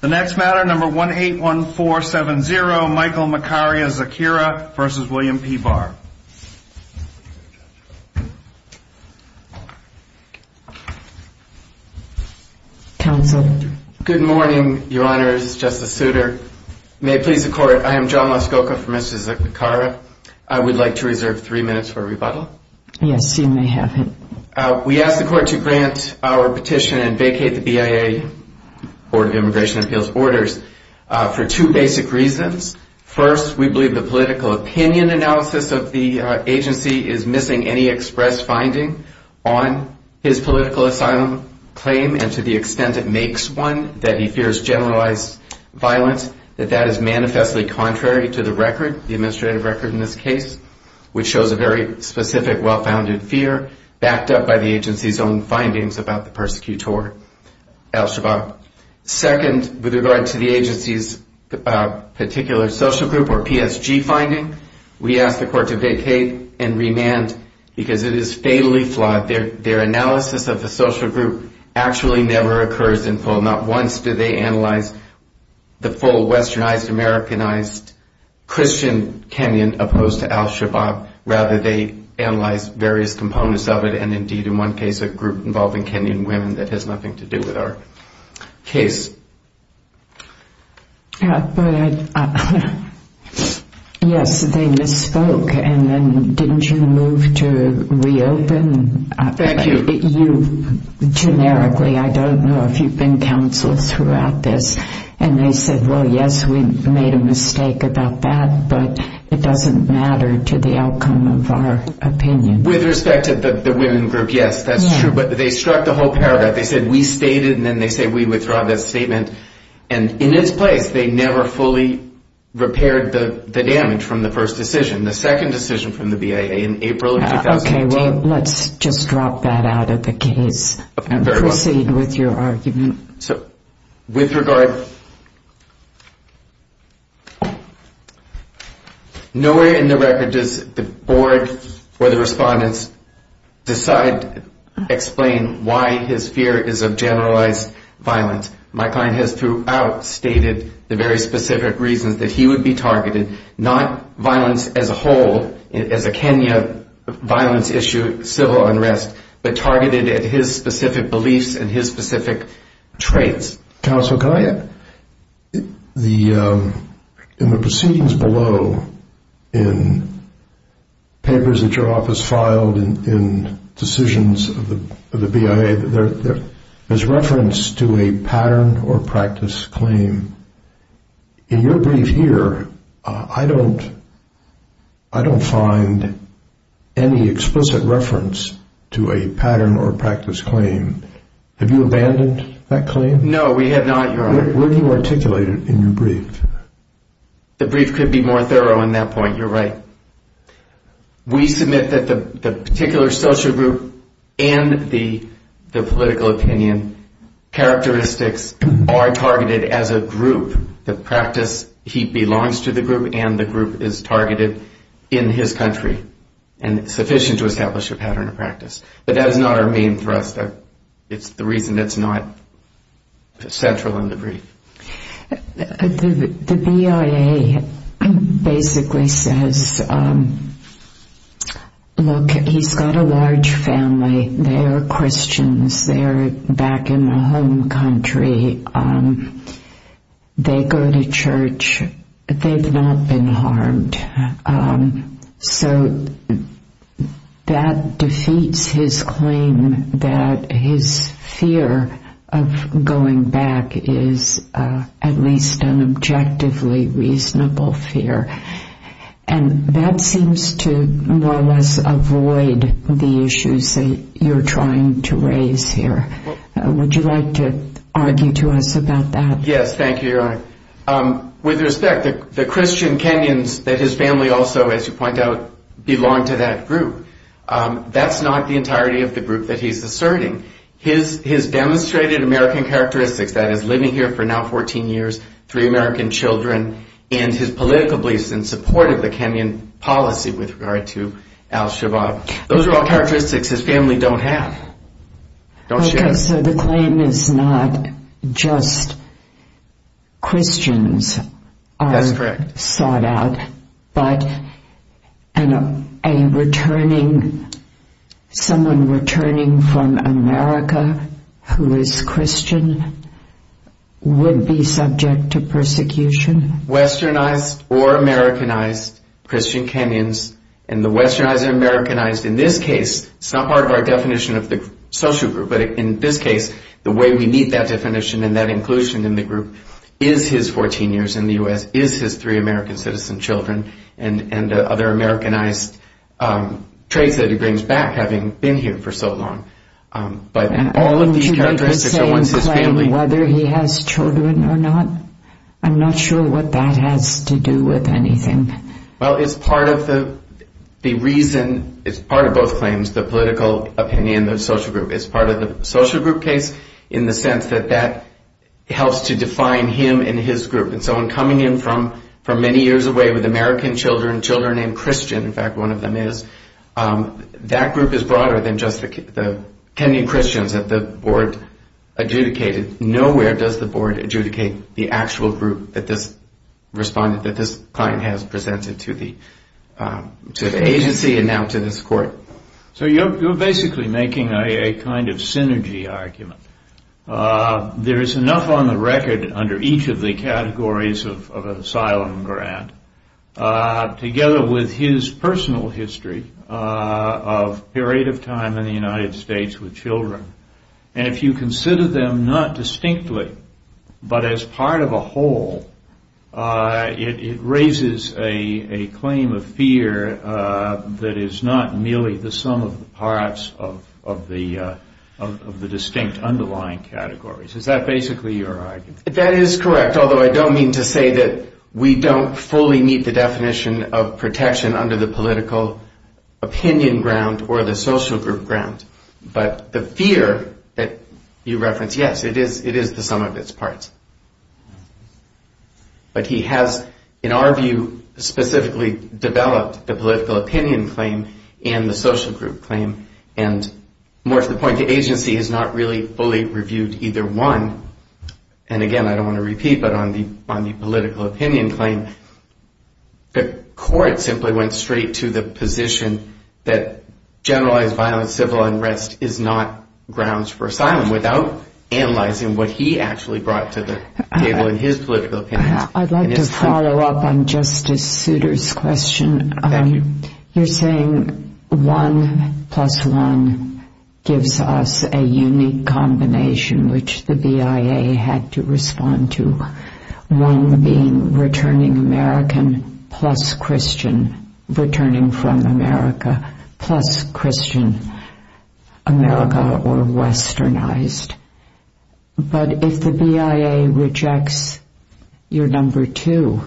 181470 Michael Makarya-Zakira v. William P. Barr Good morning, Your Honors, Justice Souter. May it please the Court, I am John Muskoka for Mr. Zakariya. I would like to reserve three minutes for rebuttal. We ask the Court to grant our petition and vacate the BIA Board of Immigration Appeals orders for two basic reasons. First, we believe the political opinion analysis of the agency is missing any express finding on his political asylum claim and to the extent it makes one, that he fears generalized violence, that that is manifestly contrary to the record, the administrative record in this case, which shows a very specific, well-founded fear, backed up by the agency's own findings about the persecutor, al-Shabaab. Second, with regard to the agency's particular social group or PSG finding, we ask the Court to vacate and remand because it is fatally flawed. Their analysis of the social group actually never occurs in full. Not once do they analyze the full westernized, Americanized, Christian Kenyan opposed to al-Shabaab. Rather, they analyze various components of it and indeed, in one case, a group involving Kenyan women that has nothing to do with our case. But, yes, they misspoke and then didn't you move to reopen? Thank you. You, generically, I don't know if you've been counsel throughout this, and they said, well, yes, we made a mistake about that, but it doesn't matter to the outcome of our opinion. With respect to the women group, yes, that's true, but they struck the whole paragraph. They said, we stated, and then they said, we withdraw that statement, and in its place, they never fully repaired the damage from the first decision. The second decision from the BIA in April of 2018. Okay, well, let's just drop that out of the case and proceed with your argument. So, with regard, nowhere in the record does the board or the respondents decide, explain why his fear is of generalized violence. My client has throughout stated the very specific reasons that he would be targeted, not violence as a whole, as a Kenya violence issue, civil unrest, but targeted at his specific beliefs and his specific traits. Counsel, in the proceedings below, in papers that your office filed in decisions of the BIA, there's reference to a pattern or practice claim. In your brief here, I don't find any explicit reference to a pattern or practice claim. Have you abandoned that claim? No, we have not, Your Honor. Where do you articulate it in your brief? The brief could be more thorough on that point. You're right. We submit that the particular social group and the political opinion characteristics are targeted as a group. The practice, he belongs to the group and the group is targeted in his country. And it's sufficient to establish a pattern of practice. But that is not our main thrust. It's the reason it's not central in the brief. The BIA basically says, look, he's got a large family. They are Christians. They are back in the home country. They go to church. They've not been harmed. So that defeats his claim that his fear of going back is at least an objectively reasonable fear. And that seems to more or less avoid the issues that you're trying to raise here. Would you like to argue to us about that? With respect, the Christian Kenyans that his family also, as you point out, belong to that group, that's not the entirety of the group that he's asserting. His demonstrated American characteristics, that is, living here for now 14 years, three American children, and his political beliefs in support of the Kenyan policy with regard to al-Shabaab, those are all characteristics his family don't have, don't share. Okay, so the claim is not just Christians are sought out, but someone returning from America who is Christian would be subject to persecution? Westernized or Americanized Christian Kenyans, and the westernized and Americanized in this case, it's not part of our definition of the social group, but in this case, the way we meet that definition and that inclusion in the group is his 14 years in the U.S., is his three American citizen children, and other Americanized traits that he brings back, having been here for so long. But all of these characteristics are ones his family... And wouldn't you make the same claim whether he has children or not? I'm not sure what that has to do with anything. Well, it's part of the reason, it's part of both claims, the political opinion, the social group. It's part of the social group case in the sense that that helps to define him and his group. And so in coming in from many years away with American children, children named Christian, in fact, one of them is, that group is broader than just the Kenyan Christians that the board adjudicated. Nowhere does the board adjudicate the actual group that this client has presented to the agency and now to this court. So you're basically making a kind of synergy argument. There is enough on the record under each of the categories of asylum grant, together with his personal history of a period of time in the United States with children, and if you consider them not distinctly, but as part of a whole, it raises a claim of fear that is not merely the sum of the parts of the distinct underlying categories. Is that basically your argument? That is correct, although I don't mean to say that we don't fully meet the definition of protection under the political opinion ground or the social group ground. But the fear that you reference, yes, it is the sum of its parts. But he has, in our view, specifically developed the political opinion claim and the social group claim, and more to the point, the agency has not really fully reviewed either one. And again, I don't want to repeat, but on the political opinion claim, the court simply went straight to the position that generalized violent civil unrest is not grounds for asylum without analyzing what he actually brought to the table in his political opinion. I'd like to follow up on Justice Souter's question. Thank you. You're saying one plus one gives us a unique combination, which the BIA had to respond to, one being returning American plus Christian, returning from America plus Christian, America or westernized. But if the BIA rejects your number two,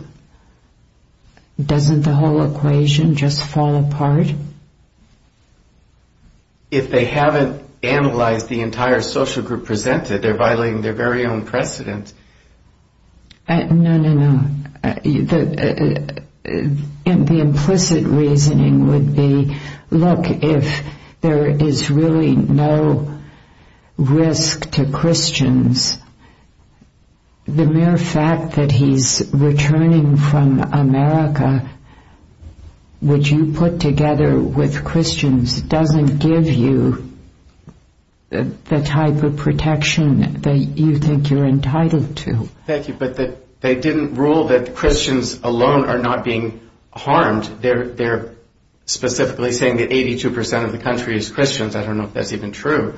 doesn't the whole equation just fall apart? If they haven't analyzed the entire social group presented, they're violating their very own precedent. No, no, no. The implicit reasoning would be, look, if there is really no risk to Christians, the mere fact that he's returning from America, which you put together with Christians, doesn't give you the type of protection that you think you're entitled to. Thank you. But they didn't rule that Christians alone are not being harmed. They're specifically saying that 82% of the country is Christians. I don't know if that's even true.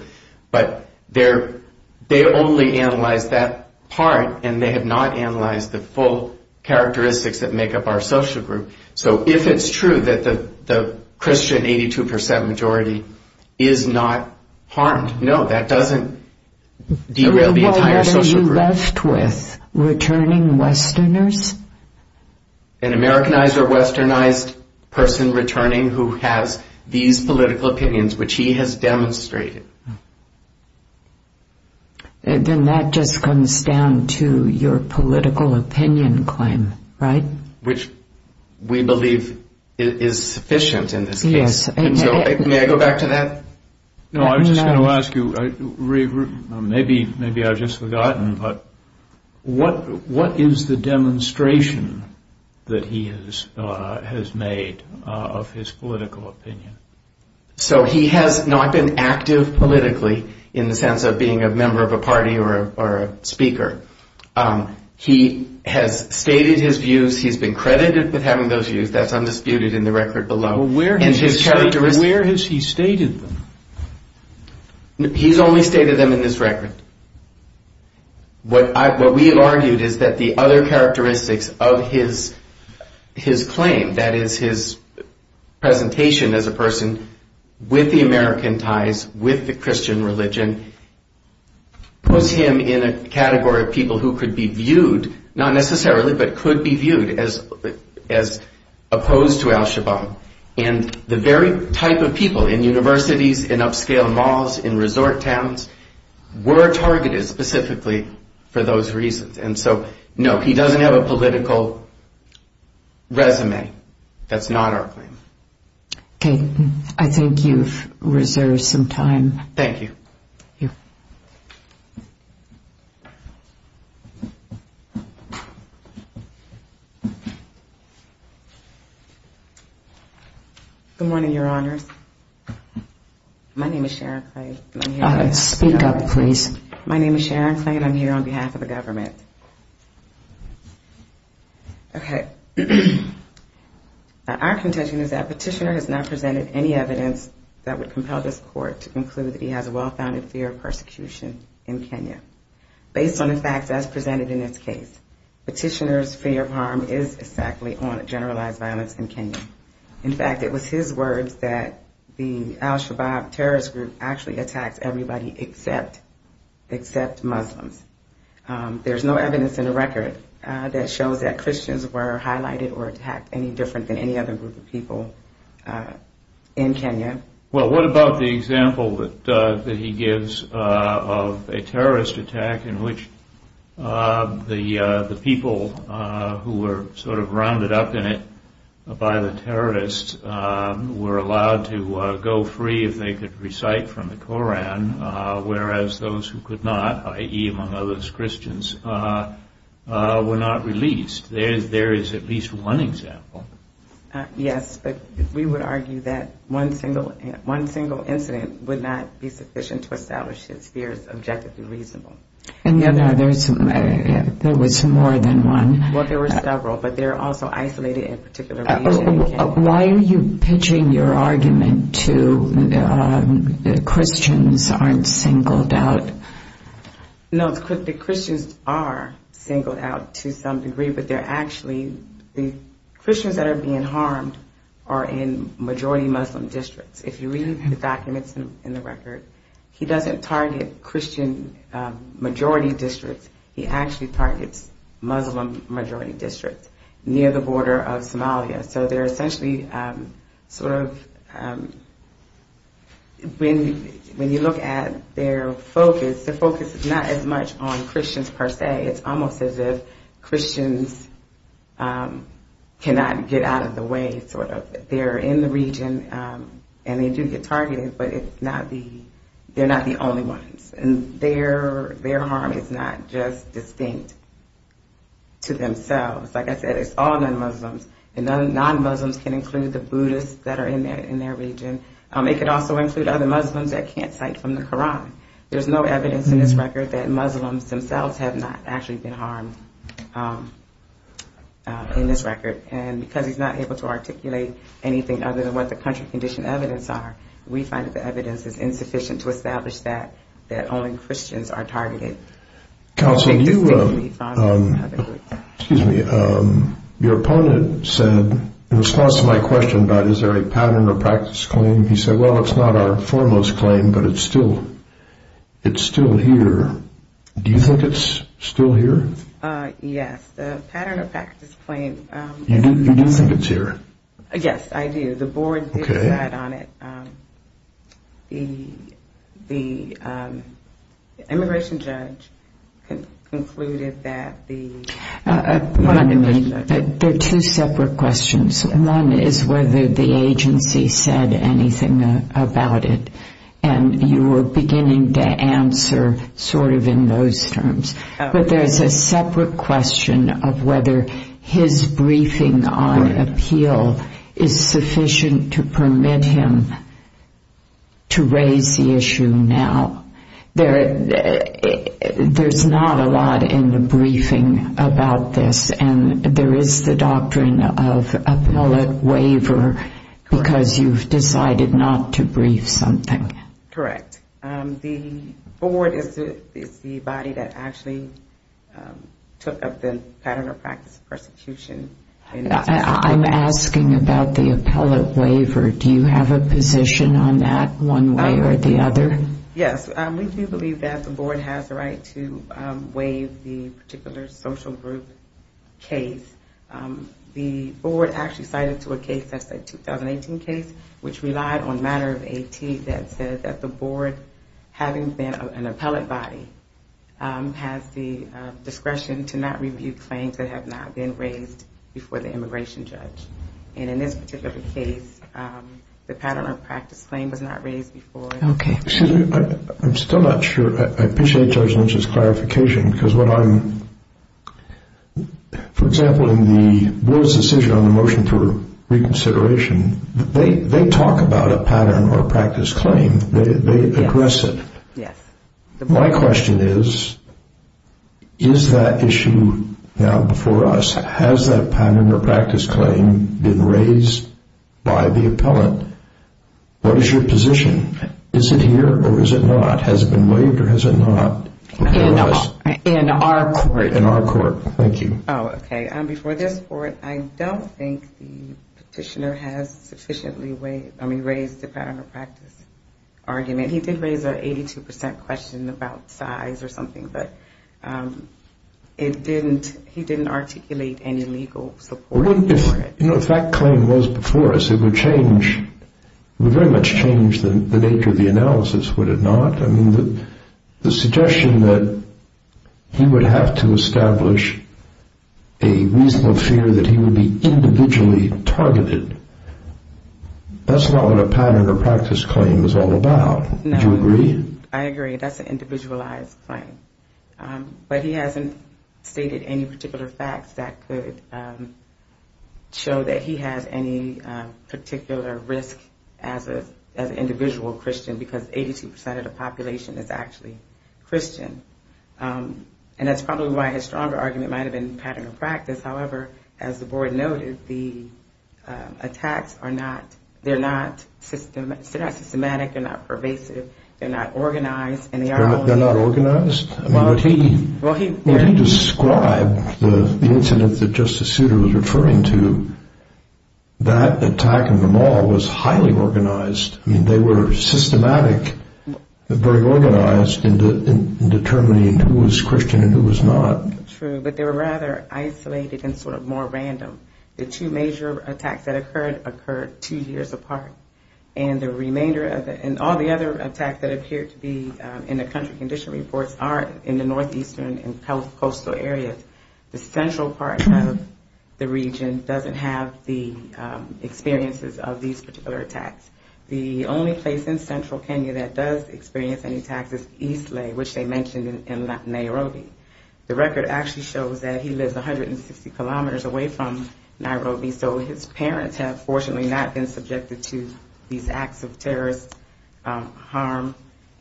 But they only analyzed that part, and they have not analyzed the full characteristics that make up our social group. So if it's true that the Christian 82% majority is not harmed, no, that doesn't derail the entire social group. So what are you left with, returning westerners? An Americanized or westernized person returning who has these political opinions, which he has demonstrated. Then that just comes down to your political opinion claim, right? Which we believe is sufficient in this case. Yes. May I go back to that? No, I was just going to ask you, maybe I've just forgotten, but what is the demonstration that he has made of his political opinion? So he has not been active politically in the sense of being a member of a party or a speaker. He has stated his views. He's been credited with having those views. That's undisputed in the record below. Where has he stated them? He's only stated them in this record. What we have argued is that the other characteristics of his claim, that is his presentation as a person with the American ties, with the Christian religion, puts him in a category of people who could be viewed, not necessarily, but could be viewed as opposed to Al-Shabaab. And the very type of people in universities, in upscale malls, in resort towns, were targeted specifically for those reasons. And so, no, he doesn't have a political resume. That's not our claim. Okay. I think you've reserved some time. Thank you. You're welcome. Good morning, Your Honors. My name is Sharon Clay. Speak up, please. My name is Sharon Clay, and I'm here on behalf of the government. Okay. Our contention is that Petitioner has not presented any evidence that would compel this court to conclude that he has a well-founded fear of persecution in Kenya. Based on the facts as presented in this case, Petitioner's fear of harm is exactly on generalized violence in Kenya. In fact, it was his words that the Al-Shabaab terrorist group actually attacks everybody except Muslims. There's no evidence in the record that shows that Christians were highlighted or attacked any different than any other group of people in Kenya. Well, what about the example that he gives of a terrorist attack in which the people who were sort of rounded up in it by the terrorists were allowed to go free if they could recite from the Koran, whereas those who could not, i.e., among others, Christians, were not released? There is at least one example. Yes, but we would argue that one single incident would not be sufficient to establish his fears objectively reasonable. And there was more than one? Well, there were several, but they're also isolated in particular regions. Why are you pitching your argument to Christians aren't singled out? No, the Christians are singled out to some degree, but they're actually, the Christians that are being harmed are in majority Muslim districts. If you read the documents in the record, he doesn't target Christian majority districts, he actually targets Muslim majority districts near the border of Somalia. So they're essentially sort of, when you look at their focus, their focus is not as much on Christians per se, it's almost as if Christians cannot get out of the way, sort of. They're in the region and they do get targeted, but they're not the only ones. And their harm is not just distinct to themselves. Like I said, it's all non-Muslims, and non-Muslims can include the Buddhists that are in their region. It could also include other Muslims that can't cite from the Koran. There's no evidence in this record that Muslims themselves have not actually been harmed in this record. And because he's not able to articulate anything other than what the country condition evidence are, we find that the evidence is insufficient to establish that only Christians are targeted. Counsel, your opponent said, in response to my question, about is there a pattern or practice claim, he said, well it's not our foremost claim, but it's still here. Do you think it's still here? Yes, I do. The board did decide on it. The immigration judge concluded that the... There are two separate questions. One is whether the agency said anything about it. And you were beginning to answer sort of in those terms. But there's a separate question of whether his briefing on appeal is sufficient to permit him to raise the issue now. There's not a lot in the briefing about this, and there is the doctrine of appellate waiver, because you've decided not to brief something. Correct. The board is the body that actually took up the pattern or practice of persecution. I'm asking about the appellate waiver. Do you have a position on that one way or the other? Yes, we do believe that the board has the right to waive the particular social group case. The board actually cited to a case, that's a 2018 case, which relied on a matter of AT that said that the board, having been an appellate body, has the discretion to not review claims that have not been raised before the immigration judge. And in this particular case, the pattern or practice claim was not raised before. I'm still not sure. For example, in the board's decision on the motion for reconsideration, they talk about a pattern or practice claim. They address it. My question is, is that issue now before us? Has that pattern or practice claim been raised by the appellate? What is your position? Is it here or is it not? In our court. Before this court, I don't think the petitioner has sufficiently raised the pattern or practice argument. He did raise an 82% question about size or something, but he didn't articulate any legal support for it. If that claim was before us, it would very much change the nature of the analysis, would it not? I mean, the suggestion that he would have to establish a reasonable fear that he would be individually targeted, that's not what a pattern or practice claim is all about. Do you agree? I agree. That's an individualized claim. But he hasn't stated any particular facts that could show that he has any particular risk as an individual Christian, because 82% of the population is actually Christian. And that's probably why his stronger argument might have been pattern or practice. However, as the board noted, the attacks are not systematic. They're not pervasive. They're not organized. They're not organized? When he described the incident that Justice Souter was referring to, that attack in the mall was highly organized. I mean, they were systematic, very organized in determining who was Christian and who was not. True, but they were rather isolated and sort of more random. The two major attacks that occurred, occurred two years apart. And all the other attacks that appeared to be in the country condition reports are in the northeastern and coastal areas. The central part of the region doesn't have the experiences of these particular attacks. The only place in central Kenya that does experience any attacks is Isle, which they mentioned in Nairobi. The record actually shows that he lives 160 kilometers away from Nairobi. So his parents have fortunately not been subjected to these acts of terrorist harm,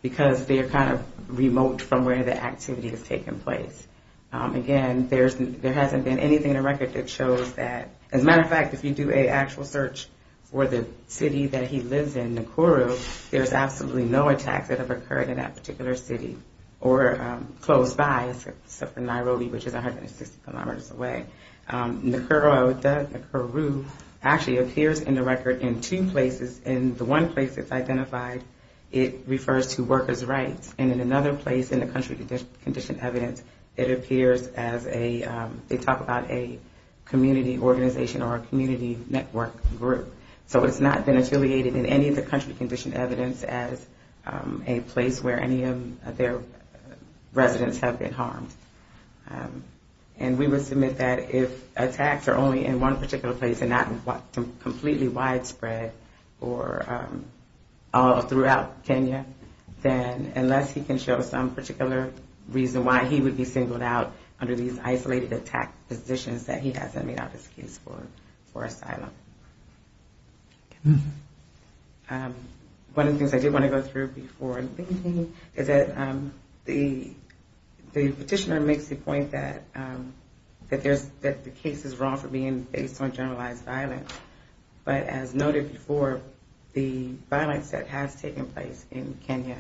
because they are kind of remote from where the activity has taken place. Again, there hasn't been anything in the record that shows that. As a matter of fact, if you do an actual search for the city that he lives in, Nakuru, there's absolutely no attacks that have occurred in that particular city or close by except for Nairobi, which is 160 kilometers away. Nakuru actually appears in the record in two places. In the one place it's identified, it refers to workers' rights. And in another place in the country condition evidence, it appears as a, they talk about a community organization or a community network group. So it's not been affiliated in any of the country condition evidence as a place where any of their residents have been harmed. And we would submit that if attacks are only in one particular place and not completely widespread or all throughout Kenya, then unless he can show some particular reason why he would be singled out under these isolated attack positions that he hasn't made up his case for asylum. One of the things I did want to go through before, is that the petitioner makes the point that the case is wrong for being based on generalized violence. But as noted before, the violence that has taken place in Kenya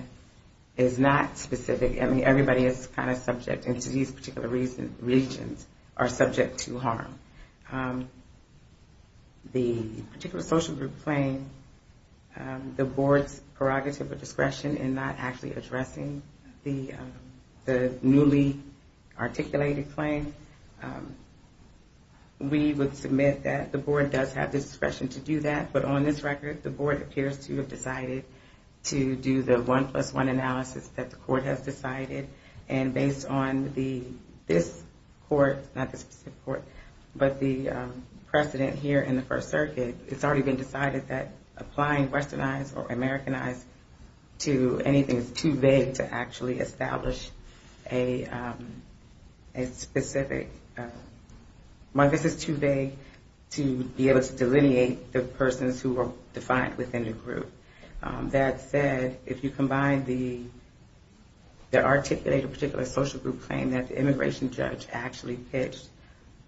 is not specific. I mean, everybody is kind of subject, and these particular regions are subject to harm. The particular social group playing the board's prerogative of discretion in Nairobi, not actually addressing the newly articulated claim. We would submit that the board does have discretion to do that. But on this record, the board appears to have decided to do the one plus one analysis that the court has decided. And based on this court, not this court, but the precedent here in the First Circuit, it's already been decided that applying westernized or Americanized to anything is too vague to actually establish a specific, this is too vague to be able to delineate the persons who are defined within the group. That said, if you combine the articulated particular social group claim that the immigration judge actually pitched,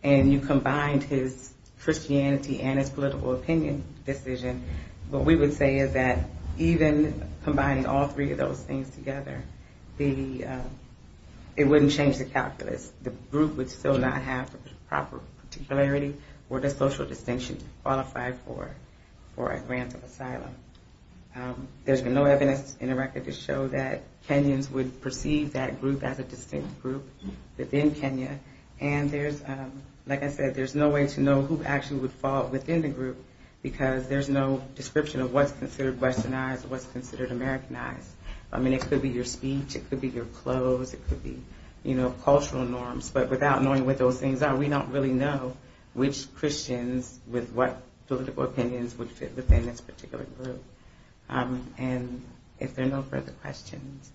and you combined his Christianity and his political opinion decision, what we would say is that even combining all three of those things together, it wouldn't change the calculus. The group would still not have proper particularity or the social distinction to qualify for a grant of asylum. There's been no evidence in the record to show that Kenyans would perceive that group as a distinct group within Kenya, and there's, like I said, there's no way to know who actually would fall within the group, because there's no description of what's considered westernized or what's considered Americanized. I mean, it could be your speech, it could be your clothes, it could be, you know, cultural norms. But without knowing what those things are, we don't really know which Christians with what political opinions would fit within this particular group. And if there are no further questions.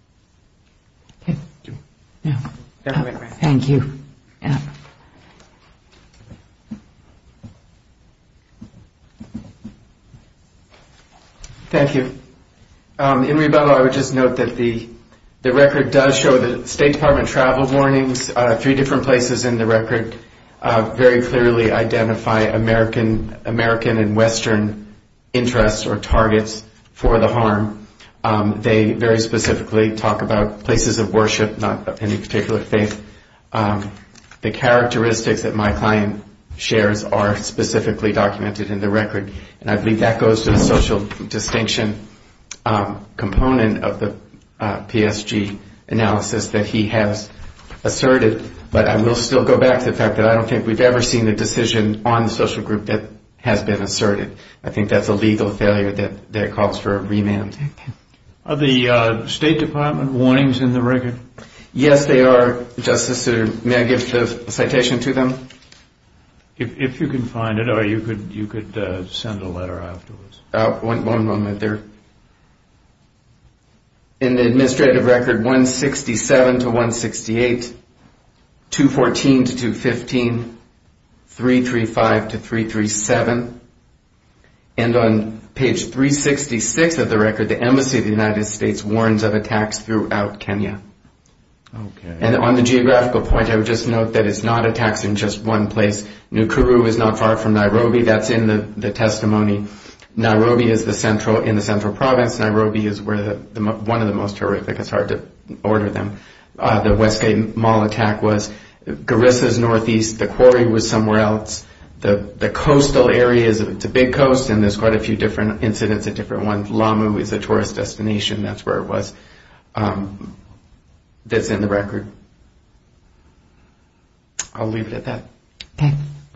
Thank you. Thank you. In Ribello, I would just note that the record does show that State Department travel warnings, three different places in the record very clearly identify American and western interests or targets for the harm. They very specifically talk about places of worship, not any particular faith. The characteristics that my client shares are specifically documented in the record, and I believe that goes to the social distinction component of the PSG analysis that he has asserted, but I will still go back to the fact that I don't think we've ever seen a decision on the social group that has been asserted. I think that's a legal failure that calls for a remand. Are the State Department warnings in the record? Yes, they are, Justice. May I give the citation to them? If you can find it, or you could send a letter afterwards. One moment. In the administrative record 167 to 168, 214 to 215, 335 to 337, and on page 366 of the record, the Embassy of the United States warns of attacks throughout Kenya. And on the geographical point, I would just note that it's not attacks in just one place. Nkuru is not far from Nairobi. That's in the testimony. Nairobi is in the central province. Nairobi is one of the most horrific. It's hard to order them. The Westgate Mall attack was. Garissa is northeast. The quarry was somewhere else. The coastal areas, it's a big coast, and there's quite a few different incidents, a different one. But it's in the record. I'll leave it at that. Thank you.